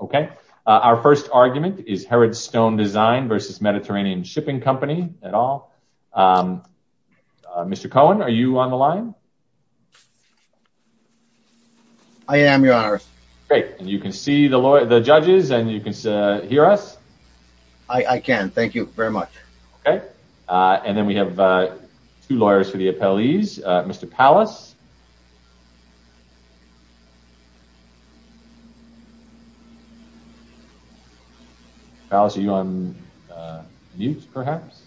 Okay, our first argument is Herod's Stone Design v. Mediterranean Shipping Company at all. Mr. Cohen, are you on the line? I am, Your Honor. Great, and you can see the judges and you can hear us? I can, thank you very much. Okay, and then we have two lawyers for the appellees. Mr. Pallas. Pallas, are you on mute, perhaps?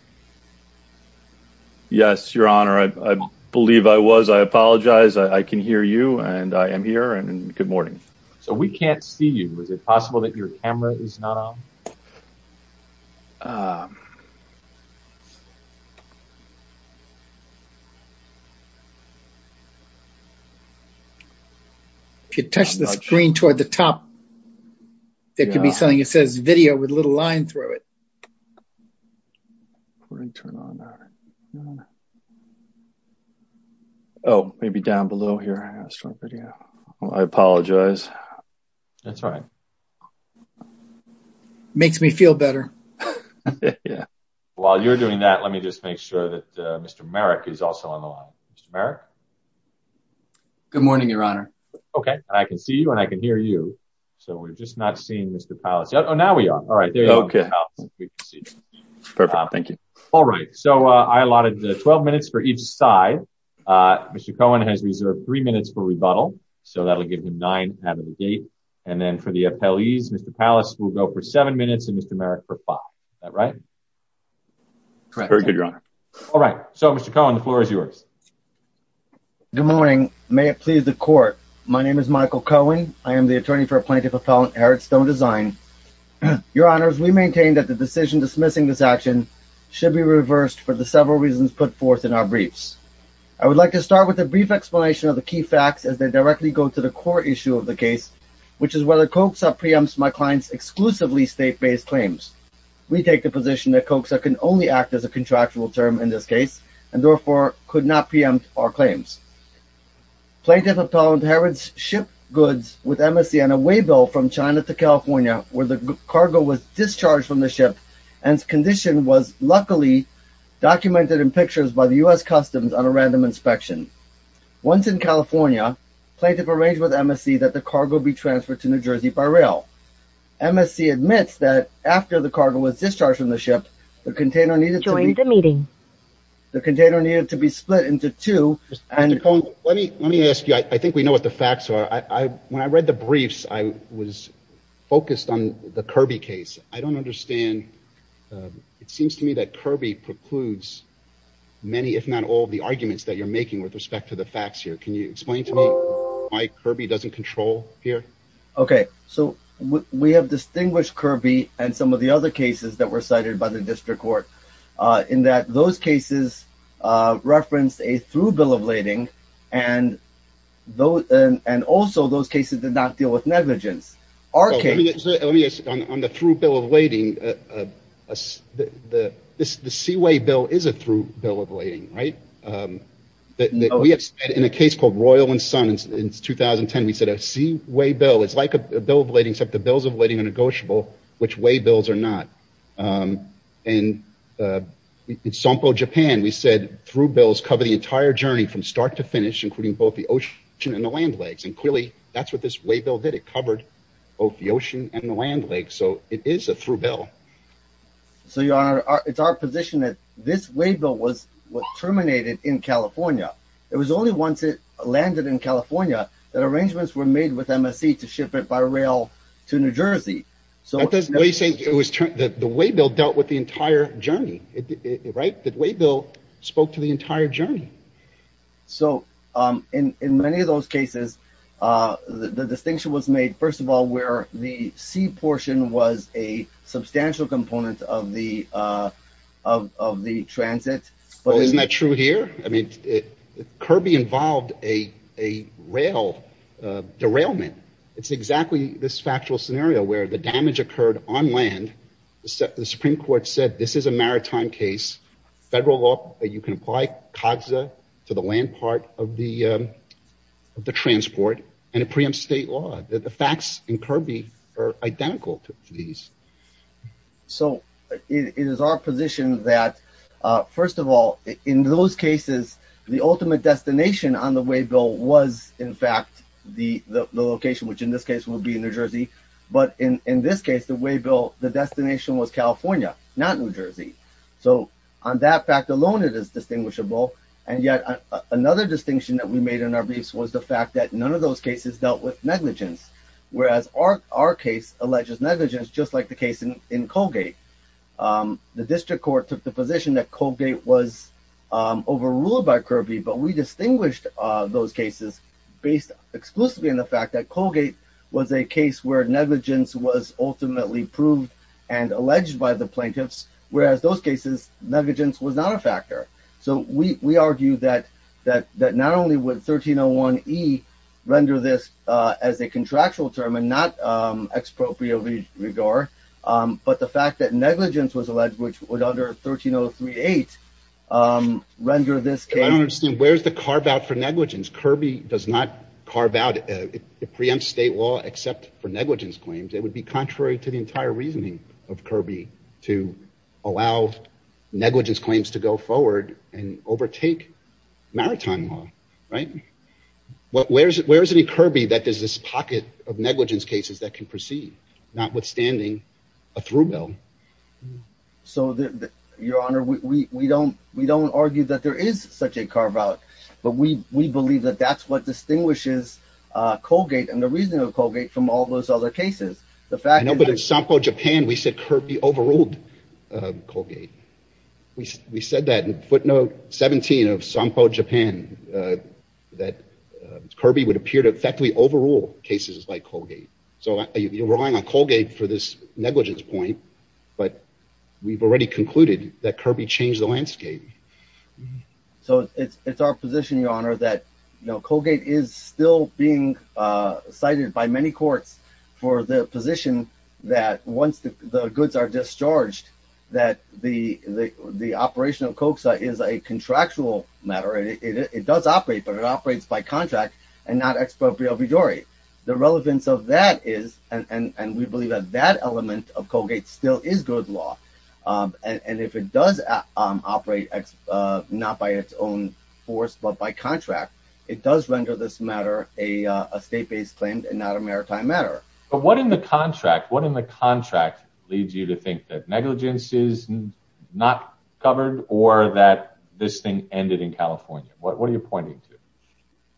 Yes, Your Honor. I believe I was. I apologize. I can hear you and I am here and good morning. So we can't see you. Is it possible that your camera is not on? If you touch the screen toward the top, there could be something that says video with a little line through it. Oh, maybe down below here. I apologize. That's all right. It makes me feel better. While you're doing that, let me just make sure that Mr. Merrick is also on the line. Mr. Merrick? Good morning, Your Honor. Okay, I can see you and I can hear you. So we're just not seeing Mr. Pallas. Oh, now we are. All right, there you go. Perfect, thank you. All right, so I allotted 12 minutes for each side. Mr. Cohen has reserved three minutes for the appellees. Mr. Pallas will go for seven minutes and Mr. Merrick for five. Is that right? Correct. Very good, Your Honor. All right, so Mr. Cohen, the floor is yours. Good morning. May it please the court. My name is Michael Cohen. I am the attorney for a plaintiff appellant, Eric Stone Design. Your Honors, we maintain that the decision dismissing this action should be reversed for the several reasons put forth in our briefs. I would like to start with a brief explanation of the key facts as they directly go to the issue of the case, which is whether COCSA preempts my client's exclusively state-based claims. We take the position that COCSA can only act as a contractual term in this case and therefore could not preempt our claims. Plaintiff appellant Harrods shipped goods with MSC on a way built from China to California where the cargo was discharged from the ship and condition was luckily documented in pictures by MSC that the cargo be transferred to New Jersey by rail. MSC admits that after the cargo was discharged from the ship, the container needed to be split into two. Let me ask you. I think we know what the facts are. When I read the briefs, I was focused on the Kirby case. I don't understand. It seems to me that Kirby precludes many, if not all, the arguments that you're making with respect to the facts here. Can you explain to me why Kirby doesn't control here? We have distinguished Kirby and some of the other cases that were cited by the district court in that those cases referenced a through bill of lading and also those cases did not deal with negligence. On the through bill of lading, the Seaway bill is a through bill of lading. In a case called Royal and Son in 2010, we said a Seaway bill is like a bill of lading except the bills of lading are negotiable, which way bills are not. In Sampo, Japan, we said through bills cover the entire journey from start to finish, including both the ocean and the land legs. And clearly, that's what this way bill did. It covered both the ocean and the land legs. So it is a through bill. So, Your Honor, it's our position that this way bill was terminated in California. It was only once it landed in California that arrangements were made with MSC to ship it by rail to New Jersey. The way bill dealt with the entire journey, right? The way bill spoke to the entire journey. So in many of those cases, the distinction was made, first of all, where the sea portion was a substantial component of the transit. Well, isn't that true here? I mean, Kirby involved a rail derailment. It's exactly this factual scenario where the damage occurred on land. The Supreme Court said this is a maritime case, federal law that you can apply COGSA to the land part of the transport, and it preempts law. The facts in Kirby are identical to these. So it is our position that, first of all, in those cases, the ultimate destination on the way bill was, in fact, the location, which in this case would be in New Jersey. But in this case, the way bill, the destination was California, not New Jersey. So on that fact alone, it is distinguishable. And yet another distinction that we made in our briefs was the fact that none of those cases dealt with negligence, whereas our case alleges negligence, just like the case in Colgate. The district court took the position that Colgate was overruled by Kirby, but we distinguished those cases based exclusively on the fact that Colgate was a case where negligence was ultimately proved and alleged by the plaintiffs, whereas those cases negligence was not a factor. So we argue that not only would 1301E render this as a contractual term and not expropriate with regard, but the fact that negligence was alleged, which would under 13038 render this case- I don't understand. Where's the carve out for negligence? Kirby does not carve out. It preempts state law except for negligence claims. It would be contrary to the forward and overtake maritime law, right? Where's any Kirby that there's this pocket of negligence cases that can proceed, notwithstanding a through bill. So your honor, we don't argue that there is such a carve out, but we believe that that's what distinguishes Colgate and the reasoning of Colgate from all those other cases. But in Sampo, Japan, we said Kirby overruled Colgate. We said that in footnote 17 of Sampo, Japan, that Kirby would appear to effectively overrule cases like Colgate. So you're relying on Colgate for this negligence point, but we've already concluded that Kirby changed the landscape. So it's our position, your honor, that Colgate is still being cited by many courts for the position that once the goods are discharged, that the operational COCSA is a contractual matter. It does operate, but it operates by contract and not expropriatory. The relevance of that is, and we believe that that element of Colgate still is good law. And if it does operate not by its own force, but by contract, it does render this matter a state-based claim and not a maritime matter. But what in the contract leads you to think that negligence is not covered or that this thing ended in California? What are you pointing to?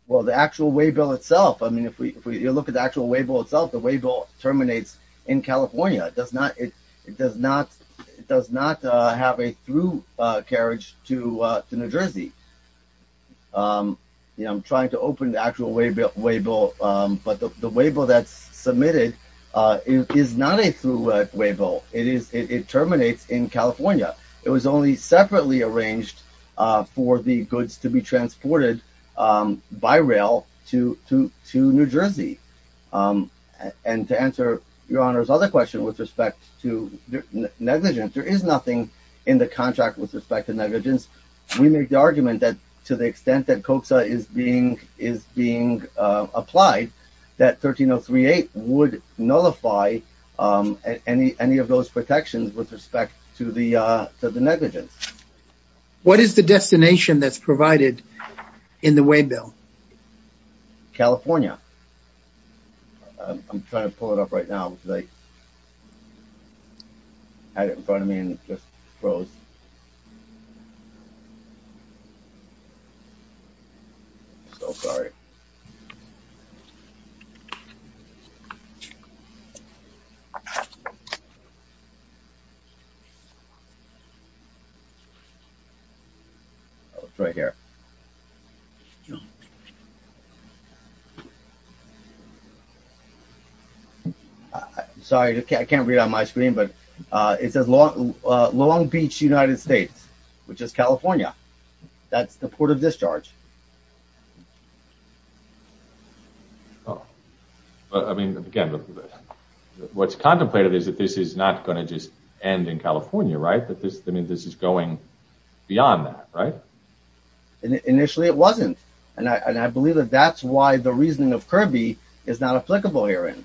Well, the actual way bill itself. I mean, if we look at the actual way bill itself, the way bill terminates in California. It does not have a through carriage to New Jersey. I'm trying to open the actual way bill, but the way bill that's submitted is not a through way bill. It terminates in California. It was only separately arranged for the goods to be transported by rail to New Jersey. And to answer your honor's other question with respect to negligence, there is nothing in the contract with respect to negligence. We make the argument that to the extent that COPSA is being applied, that 13038 would nullify any of those protections with respect to the negligence. What is the destination that's provided in the way bill? California. I'm trying to pull it up right now because I had it in front of me and it just froze. So sorry. Oh, it's right here. Sorry, I can't read on my screen, but it says Long Beach, United States, which is California. That's the port of discharge. Oh, but I mean, again, what's contemplated is that this is not going to just end in California, right? That this, I mean, this is going beyond that, right? Initially it wasn't. And I, and I believe that that's why the reasoning of Kirby is not applicable here. And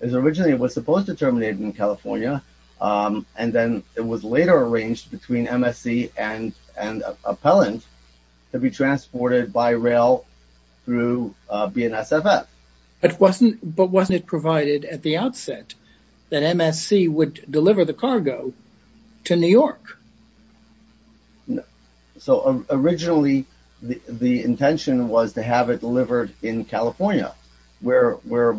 it was originally, it was supposed to terminate in California. And then it was later arranged between MSC and, and appellant to be transported by rail through BNSFF. But wasn't it provided at the outset that MSC would deliver the cargo to New York? So originally the intention was to have it delivered in California where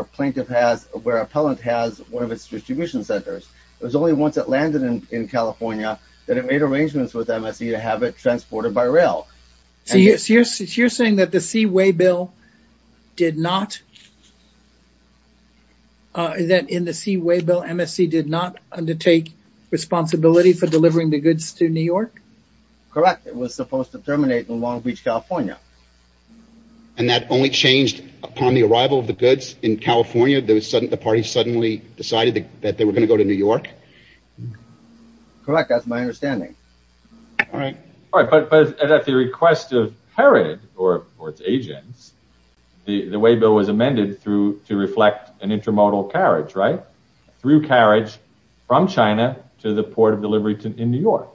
a plaintiff has, where appellant has one of its distribution centers. It was only once it landed in California that it made arrangements with MSC to have it transported by rail. So you're saying that the Seaway Bill did not, that in the Seaway Bill, MSC did not undertake responsibility for delivering the goods to New York? Correct. It was supposed to terminate in Long Beach, California. And that only changed upon the arrival of the goods in California. There was sudden, the party suddenly decided that they were going to go to New York. Correct. That's my understanding. All right. But at the request of Herod or its agents, the Seaway Bill was amended through to reflect an intermodal carriage, right? Through carriage from China to the port of delivery in New York.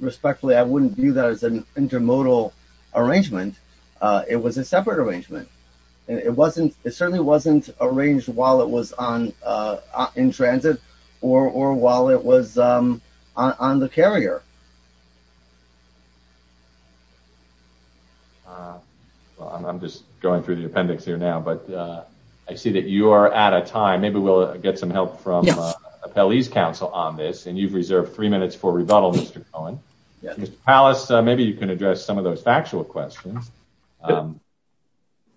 Respectfully, I wouldn't view that as an intermodal arrangement. It was a separate arrangement. It wasn't, it certainly wasn't arranged while it was on, in transit or, or while it was on the carrier. Well, I'm just going through the appendix here now, but I see that you are out of time. Maybe we'll get some help from Appellee's Council on this. And you've reserved three minutes for rebuttal, Mr. Cohen. Mr. Pallas, maybe you can address some of those factual questions.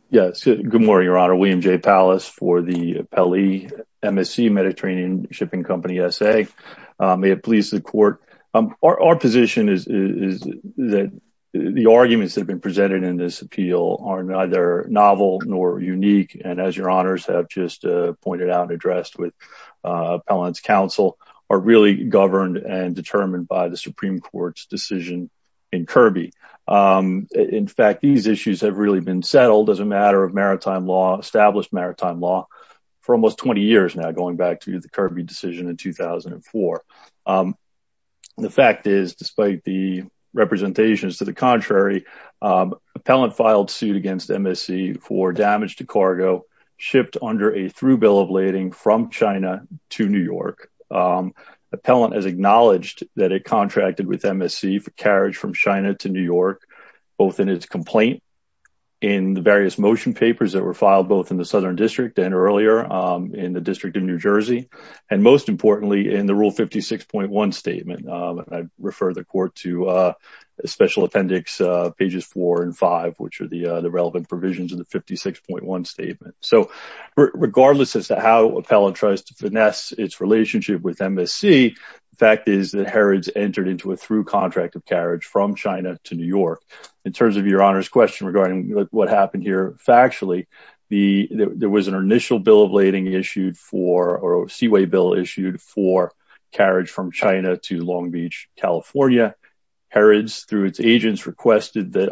Yes. Good morning, Your Honor. William J. Pallas for the Appellee MSC Mediterranean Shipping Company SA. May it please the court. Our position is that the arguments that have been presented in this appeal are neither novel nor unique. And as Your Honors have just pointed out and addressed with Appellee's Council, are really governed and determined by the Supreme Court's decision in Kirby. In fact, these issues have really been settled as a matter of maritime law, established maritime law for almost 20 years now, going back to the Kirby decision in 2004. The fact is, despite the representations to the contrary, Appellant filed suit against MSC for damage to cargo shipped under a through bill of lading from China to New York. Appellant has acknowledged that it contracted with MSC for carriage from China to New York, both in its motion papers that were filed both in the Southern District and earlier in the District of New Jersey, and most importantly, in the Rule 56.1 statement. I refer the court to Special Appendix pages four and five, which are the relevant provisions in the 56.1 statement. So regardless as to how Appellant tries to finesse its relationship with MSC, the fact is that Herod's entered into a through contract of carriage from China to New York. In terms of Your Honor's question regarding what happened here factually, there was an initial bill of lading issued for, or seaway bill issued for carriage from China to Long Beach, California. Herod's, through its agents, requested that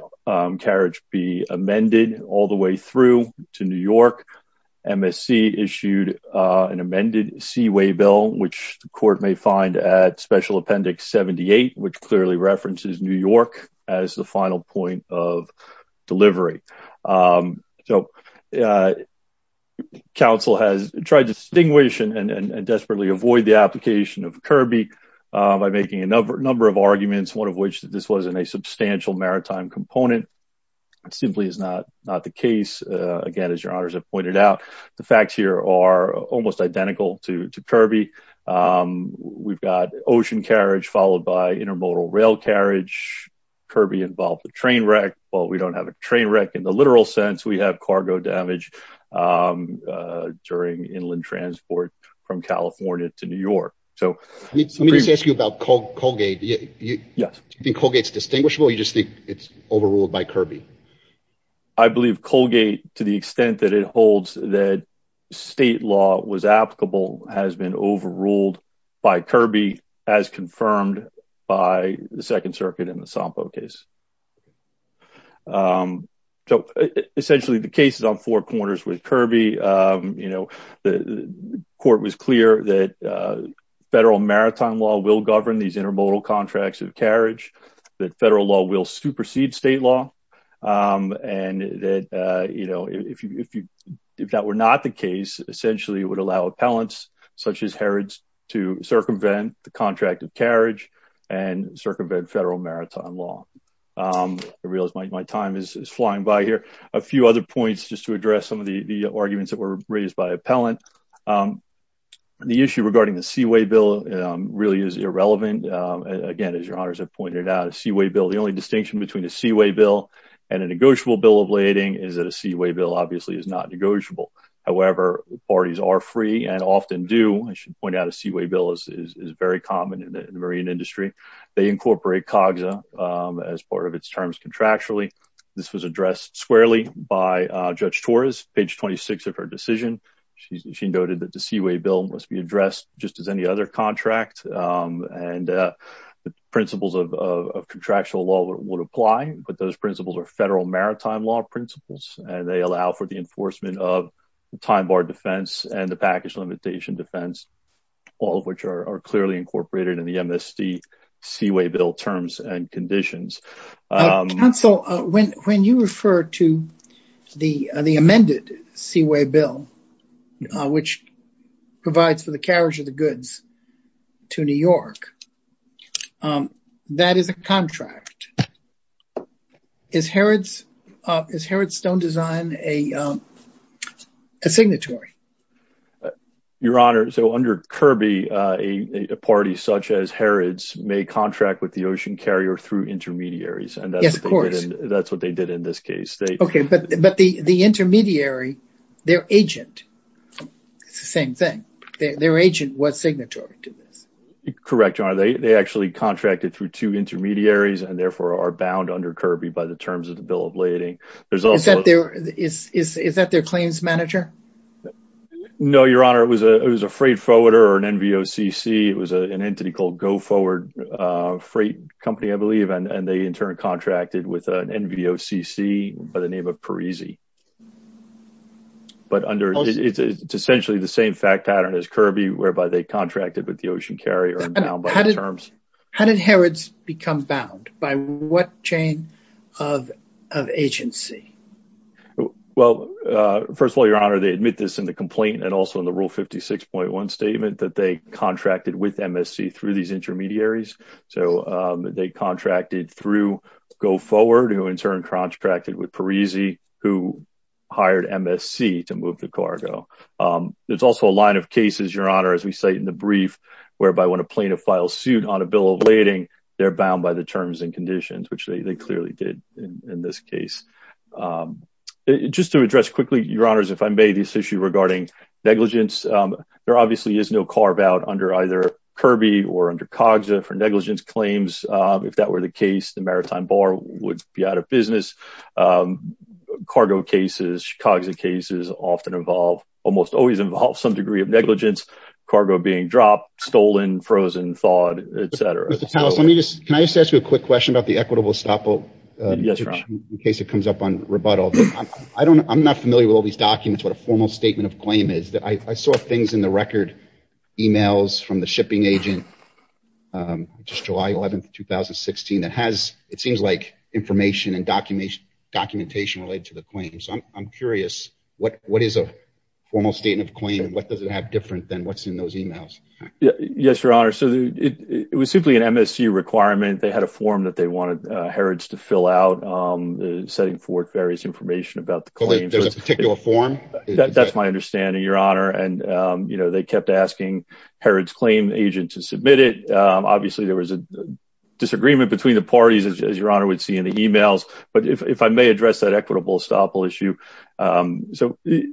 carriage be amended all the way through to New York. MSC issued an amended seaway bill, which the court may at Special Appendix 78, which clearly references New York as the final point of delivery. So, Council has tried to distinguish and desperately avoid the application of Kirby by making a number of arguments, one of which that this wasn't a substantial maritime component. It simply is not the case. Again, as Your Honors have pointed out, the facts here are almost identical to Kirby. We've got ocean carriage followed by intermodal rail carriage. Kirby involved the train wreck. Well, we don't have a train wreck in the literal sense. We have cargo damage during inland transport from California to New York. Let me just ask you about Colgate. Do you think Colgate's distinguishable or do you just think it's overruled by Kirby? I believe Colgate, to the extent that it holds that state law was applicable, has been overruled by Kirby, as confirmed by the Second Circuit in the Sampo case. So, essentially, the case is on four corners with Kirby. You know, the court was clear that federal maritime law will govern these intermodal contracts of carriage, that federal law will supersede state law, and that, you know, if that were not the case, essentially, it would allow appellants, such as Herod, to circumvent the contract of carriage and circumvent federal maritime law. I realize my time is flying by here. A few other points, just to address some of the arguments that were raised by appellant. The issue regarding the irrelevant, again, as your honors have pointed out, a seaway bill. The only distinction between a seaway bill and a negotiable bill of lading is that a seaway bill, obviously, is not negotiable. However, parties are free and often do, I should point out, a seaway bill is very common in the marine industry. They incorporate COGSA as part of its terms contractually. This was addressed squarely by Judge Torres, page 26 of her decision. She noted that the seaway bill must be addressed just as any other contract, and the principles of contractual law would apply, but those principles are federal maritime law principles, and they allow for the enforcement of the time bar defense and the package limitation defense, all of which are clearly incorporated in the MSD seaway bill terms and conditions. Counsel, when you refer to the amended seaway bill, which provides for the carriage of the goods to New York, that is a contract. Is Herod's stone design a signatory? Your honor, so under Kirby, a party such as Herod's may contract with the ocean carrier through intermediaries, and that's what they did in this case. Okay, but the intermediary, their agent, it's the same thing. Their agent was signatory to this. Correct, your honor. They actually contracted through two intermediaries and, therefore, are bound under Kirby by the terms of the bill of lading. Is that their claims manager? No, your honor. It was a freight forwarder or an NVOCC. It was an entity called Go Forward Freight Company, I believe, and they, in turn, contracted with an NVOCC by the name of Parisi. But it's essentially the same fact pattern as Kirby, whereby they contracted with the ocean carrier and bound by those terms. How did Herod's become bound? By what chain of agency? Well, first of all, your honor, they admit this in the complaint and also in the rule 56.1 statement that they contracted with MSC through these intermediaries. So they contracted through Go Forward, who, in turn, contracted with Parisi, who hired MSC to move the cargo. There's also a line of cases, your honor, as we cite in the brief, whereby when a plaintiff files suit on a bill of lading, they're bound by the terms and conditions, which they clearly did in this case. Just to address quickly, your honors, if I may, this issue regarding negligence. There obviously is no carve out under either Kirby or under COGSA for negligence claims. If that were the case, the Maritime Bar would be out of business. Cargo cases, COGSA cases often involve, almost always involve some degree of negligence, cargo being dropped, stolen, frozen, thawed, etc. Mr. Thomas, let me just, can I just ask you a quick question about the equitable stopboat in case it comes up on rebuttal. I'm not familiar with all these documents, what a formal statement of claim is. I saw things in the record, emails from the shipping agent, just July 11th, 2016, that has, it seems like, information and documentation related to the claim. So I'm curious, what is a formal statement of claim and what does it have different than what's in those emails? Yes, your honor. So it was simply an MSC requirement. They had a form that they wanted Herod's to fill out, setting forth various information about the claim. There's a particular form? That's my understanding, your honor. And, you know, they kept asking Herod's claim agent to submit it. Obviously, there was a disagreement between the parties, as your honor would see in the emails. But if I may address that equitable estoppel issue. So the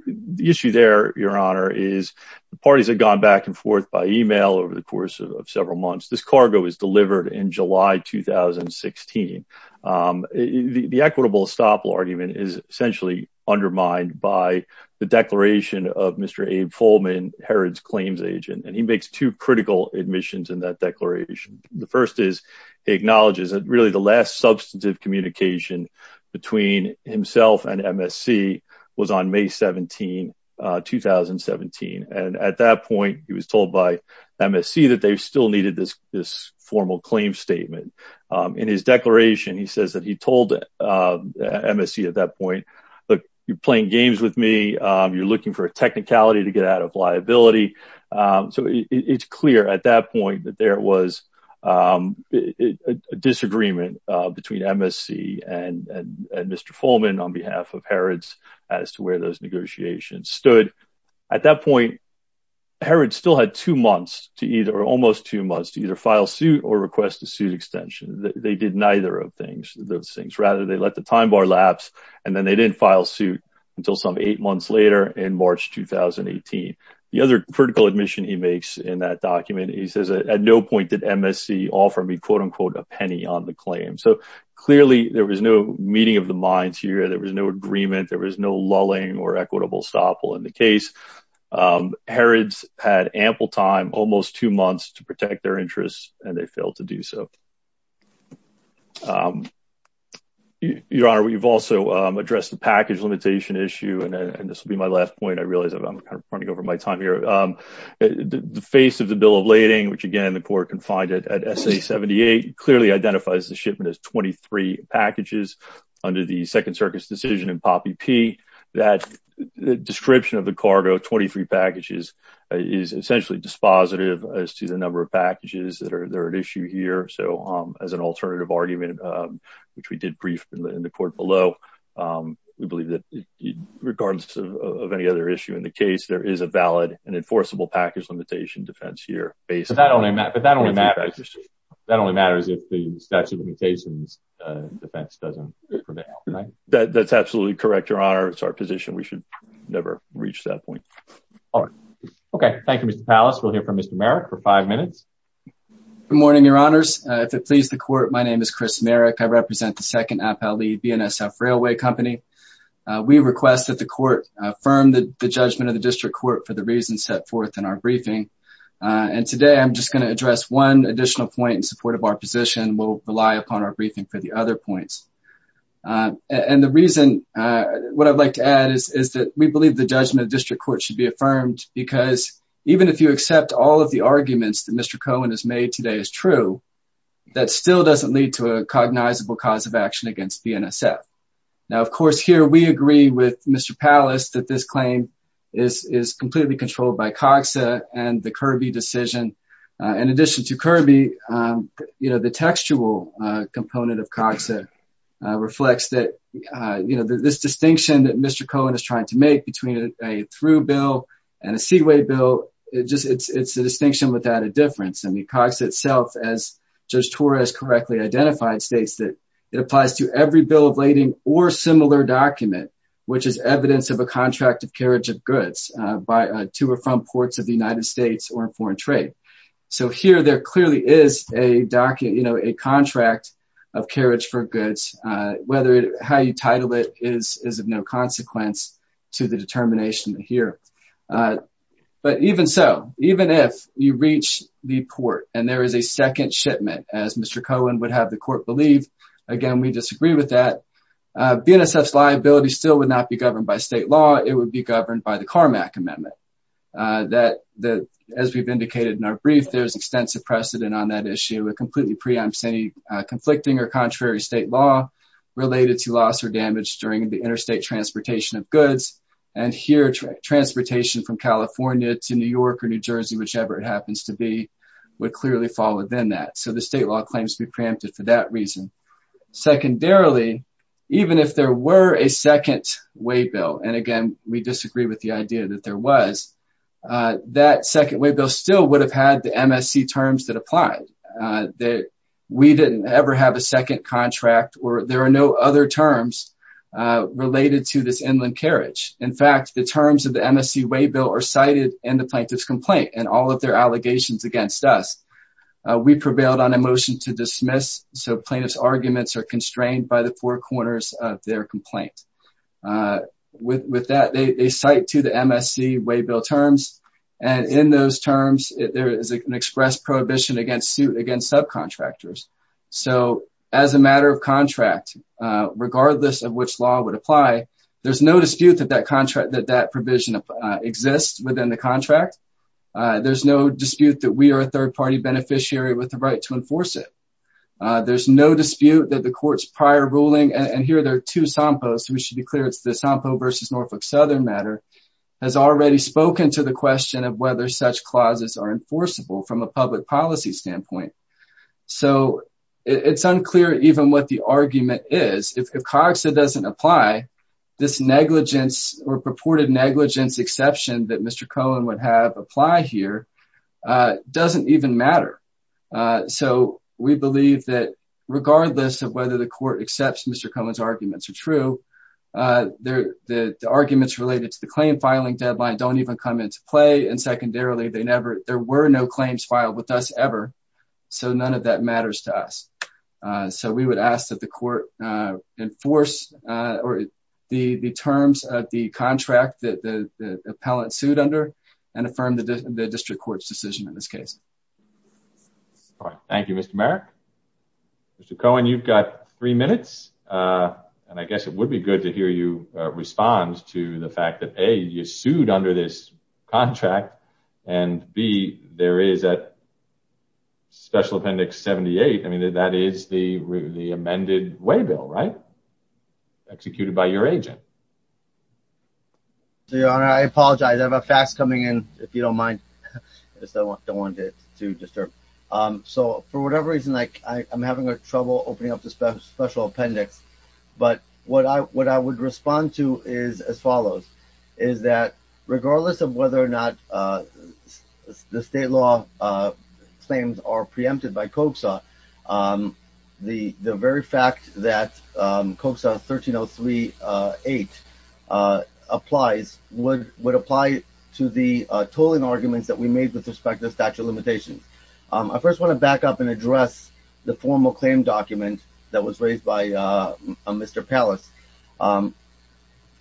issue there, your honor, is the parties had gone back and forth by email over the course of several months. This cargo was delivered in July, 2016. The equitable estoppel argument is essentially undermined by the declaration of Mr. Abe Foleman, Herod's claims agent. And he makes two critical admissions in that declaration. The first is, he acknowledges that really the last substantive communication between himself and MSC was on May 17, 2017. And at that point, he was told by MSC that they still needed this formal claim statement. In his declaration, he says that he told MSC at that point, look, you're playing games with me. You're looking for a technicality to get out of liability. So it's clear at that point that there was a disagreement between MSC and Mr. Foleman on behalf of Herod's as to where those negotiations stood. At that point, Herod still had two months to either or almost two months to either file suit or request a suit extension. They did neither of those things. Rather, they let the time bar lapse. And then they didn't file suit until some eight months later in March, 2018. The other critical admission he makes in that document, he says, at no point did MSC offer me, quote unquote, a penny on the claim. So clearly, there was no meeting of the minds here. There was no agreement. There was no lulling or equitable stop in the case. Herod's had ample time, almost two months, to protect their interests, and they failed to do so. Your Honor, we've also addressed the package limitation issue. And this will be my last point. I realize I'm running over my time here. The face of the Bill of Lading, which, again, the court can find it at SA 78, clearly identifies the shipment as 23 packages under the Second Circuit's decision in POPP, that description of the cargo, 23 packages, is essentially dispositive as to the number of packages that are at issue here. So as an alternative argument, which we did brief in the court below, we believe that regardless of any other issue in the case, there is a valid and enforceable package limitation defense here based on the 23 packages. That only matters if the statute of limitations defense doesn't prevent it, right? That's absolutely correct, Your Honor. It's our position. We should never reach that point. All right. Okay. Thank you, Mr. Pallas. We'll hear from Mr. Merrick for five minutes. Good morning, Your Honors. If it pleases the court, my name is Chris Merrick. I represent the Second Appellee BNSF Railway Company. We request that the court affirm the judgment of the district court for the reasons set forth in our briefing. And today, I'm just going to address one additional point in support of our position. We'll rely upon our briefing for the other points. And the reason, what I'd like to add is that we believe the judgment of the district court should be affirmed because even if you accept all of the arguments that Mr. Cohen has made today is true, that still doesn't lead to a cognizable cause of action against BNSF. Now, of course, here we agree with Mr. Pallas that this claim is completely controlled by COGSA and the Kirby decision. In addition to Kirby, the textual component of COGSA reflects that this distinction that Mr. Cohen is trying to make between a through bill and a seaway bill, it's a distinction without a difference. I mean, COGSA itself, as Judge Torres correctly identified, states that it applies to every bill of lading or similar document, which is evidence of a contract of carriage of goods by to or from ports of the United States or foreign trade. So here, there clearly is a contract of carriage for goods, whether how you title it is of no consequence to the determination here. But even so, even if you reach the port and there is a second shipment, as Mr. Cohen would have the court believe, again, we disagree with that. BNSF's liability still would not be governed by state law. It would be governed by the Carmack Amendment. That, as we've indicated in our brief, there's extensive precedent on that issue. It completely preempts any conflicting or contrary state law related to loss or damage during the interstate transportation of goods. And here, transportation from California to New York or New Jersey, whichever it happens to be, would clearly fall within that. So the state law claims to be preempted for that reason. Secondarily, even if there were a second way bill, and again, we disagree with the idea that there was, that second way bill still would have had the MSC terms that apply, that we didn't ever have a second contract or there are no other terms related to this inland carriage. In fact, the terms of the MSC way bill are cited in the plaintiff's complaint and all of their allegations against us. We prevailed on a motion to dismiss, so plaintiff's arguments are constrained by the four corners of their complaint. With that, they cite to the MSC way bill terms, and in those terms, there is an express prohibition against suit against subcontractors. So as a matter of contract, regardless of which law would apply, there's no dispute that that provision exists within the contract. There's no dispute that we are a third party beneficiary with the right to enforce it. There's no dispute that the court's prior ruling, and here there are two SOMPOs, we should be clear it's the SOMPO versus Norfolk Southern matter, has already spoken to the question of whether such clauses are enforceable from a public policy standpoint. So it's unclear even what the argument is. If COGSA doesn't apply, this negligence or purported negligence exception that Mr. Cohen has applied here doesn't even matter. So we believe that regardless of whether the court accepts Mr. Cohen's arguments are true, the arguments related to the claim filing deadline don't even come into play, and secondarily, there were no claims filed with us ever, so none of that matters to us. So we would ask that the court enforce the terms of the contract that the appellant sued and affirm the district court's decision in this case. All right. Thank you, Mr. Merrick. Mr. Cohen, you've got three minutes, and I guess it would be good to hear you respond to the fact that A, you sued under this contract, and B, there is a special appendix 78. I mean, that is the amended way bill, right? Executed by your agent. Your Honor, I apologize. I have a fax coming in, if you don't mind. I just don't want to disturb. So for whatever reason, I'm having trouble opening up the special appendix, but what I would respond to is as follows. Is that regardless of whether or not the state law claims are preempted by COGSA, the very fact that COGSA 13038 applies would apply to the tolling arguments that we made with respect to the statute of limitations. I first want to back up and address the formal claim document that was raised by Mr. Pallas.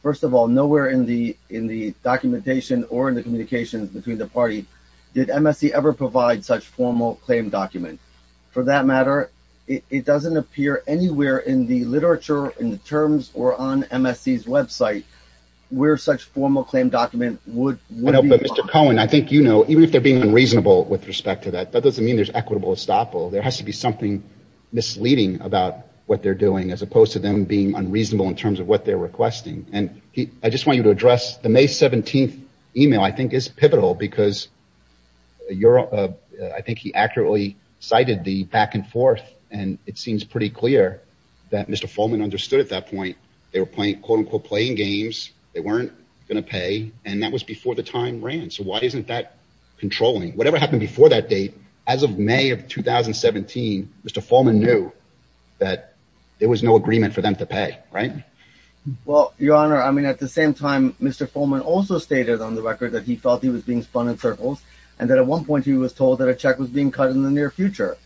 First of all, nowhere in the documentation or in the communications between the party did MSC ever provide such formal claim document. For that matter, it doesn't appear anywhere in the literature, in the terms, or on MSC's website where such formal claim document would be. But Mr. Cohen, I think you know, even if they're being unreasonable with respect to that, that doesn't mean there's equitable estoppel. There has to be something misleading about what they're doing as opposed to them being unreasonable in terms of what they're requesting. And I just want you to address the May 17th email, I think is pivotal because I think he accurately cited the back and forth. And it seems pretty clear that Mr. Fulman understood at that point they were playing, quote unquote, playing games. They weren't going to pay. And that was before the time ran. So why isn't that controlling? Whatever happened before that date, as of May of 2017, Mr. Fulman knew that there was no agreement for them to pay, right? Well, Your Honor, I mean, at the same time, Mr. Fulman also stated on the record that he felt he was being spun in circles and that at one point he was told that a check was being cut in the near future.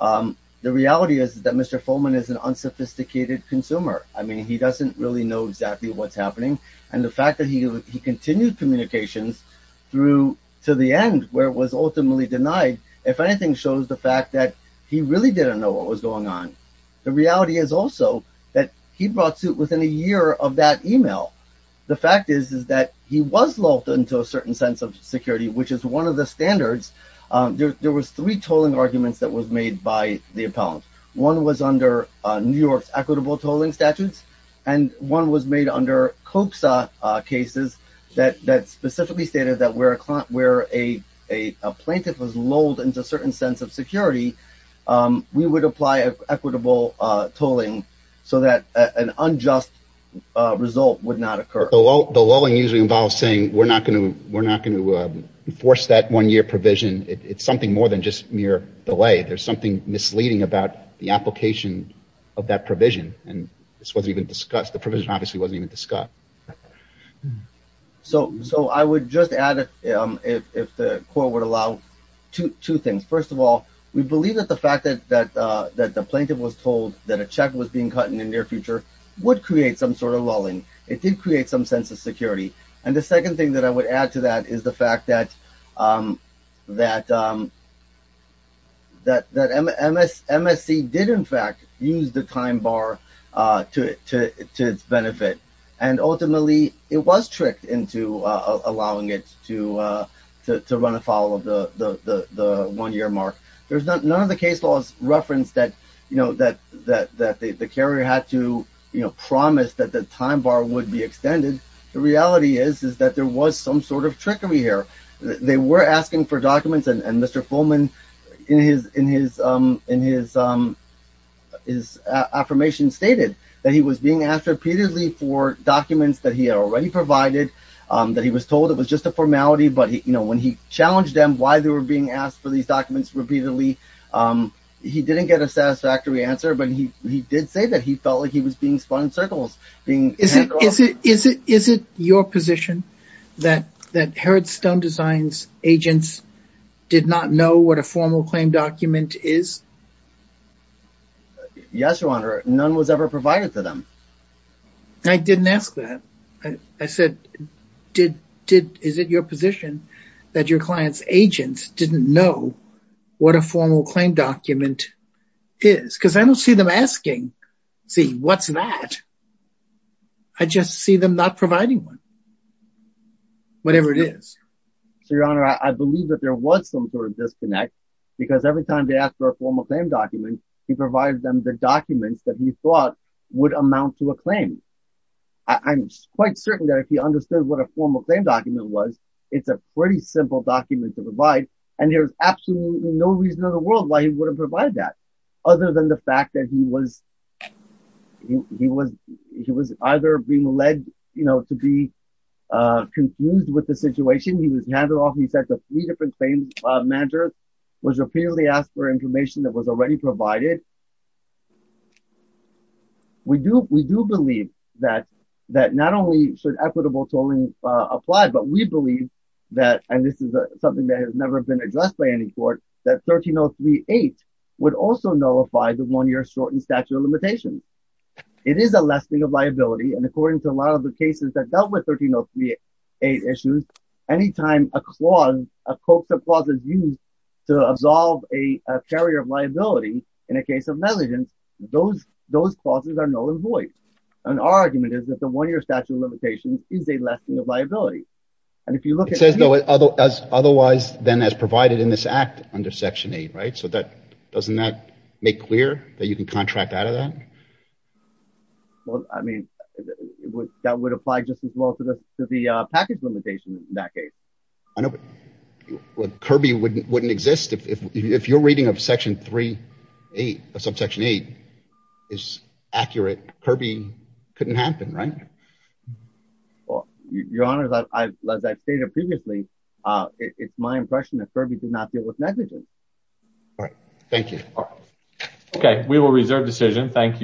The reality is that Mr. Fulman is an unsophisticated consumer. I mean, he doesn't really know exactly what's happening. And the fact that he continued communications through to the end where it was ultimately denied, if anything, shows the fact that he really didn't know what was going on. The reality is also that he brought suit within a year of that email. The fact is, is that he was locked into a certain sense of security, which is one of the standards. There was three tolling arguments that was made by the appellant. One was under New York's equitable tolling statutes, and one was made under COPSA cases that specifically stated that where a plaintiff was lulled into a certain sense of security, we would apply equitable tolling so that an unjust result would not occur. The lulling usually involves saying, we're not going to enforce that one-year provision. It's something more than just mere delay. There's something misleading about the application of that provision. And this wasn't even discussed. The provision obviously wasn't even discussed. So I would just add, if the court would allow, two things. First of all, we believe that the fact that the plaintiff was told that a check was being cut in the near future would create some sort of lulling. It did create some sense of security. And the second thing that I would add to that is the fact that MSC did, in fact, use the time bar to its benefit. And ultimately, it was tricked into allowing it to run afoul of the one-year mark. There's none of the case laws reference that the carrier had to promise that the time bar would be extended. The reality is that there was some sort of trickery here. They were asking for documents. And Mr. Fulman, in his affirmation, stated that he was being asked repeatedly for documents that he had already provided, that he was told it was just a formality. But when he challenged them why they were being asked for these documents repeatedly, he didn't get a satisfactory answer. But he did say that he felt like he was being spun in circles. Is it your position that Herod Stone Design's agents did not know what a formal claim document is? Yes, Your Honor. None was ever provided to them. I didn't ask that. I said, is it your position that your client's agents didn't know what a formal claim document is? Because I don't see them asking, see, what's that? I just see them not providing one, whatever it is. So, Your Honor, I believe that there was some sort of disconnect, because every time they asked for a formal claim document, he provided them the documents that he thought would amount to a claim. I'm quite certain that if he understood what a formal claim document was, it's a pretty simple document to provide. And there's absolutely no reason in the world why he wouldn't provide that, other than the was either being led, you know, to be confused with the situation. He was handed off, he said, to three different claims managers, was repeatedly asked for information that was already provided. We do believe that not only should equitable tolling apply, but we believe that, and this is something that has never been addressed by any court, that 13038 would also nullify the one-year shortened statute of limitations. It is a lessening of liability, and according to a lot of the cases that dealt with 13038 issues, any time a clause, a code of clause is used to absolve a carrier of liability in a case of negligence, those clauses are null and void. And our argument is that the one-year statute of limitations is a lessening of liability. And if you look at- It says otherwise than as provided in this act under Section 8, right? So that, doesn't that make clear that you can contract out of that? Well, I mean, that would apply just as well to the package limitations in that case. I know, but Kirby wouldn't exist if you're reading of Section 3-8, of Subsection 8, is accurate. Kirby couldn't happen, right? Well, Your Honor, as I stated previously, it's my impression that Kirby did not deal with negligence. All right. Thank you. Okay. We will reserve decision. Thank you.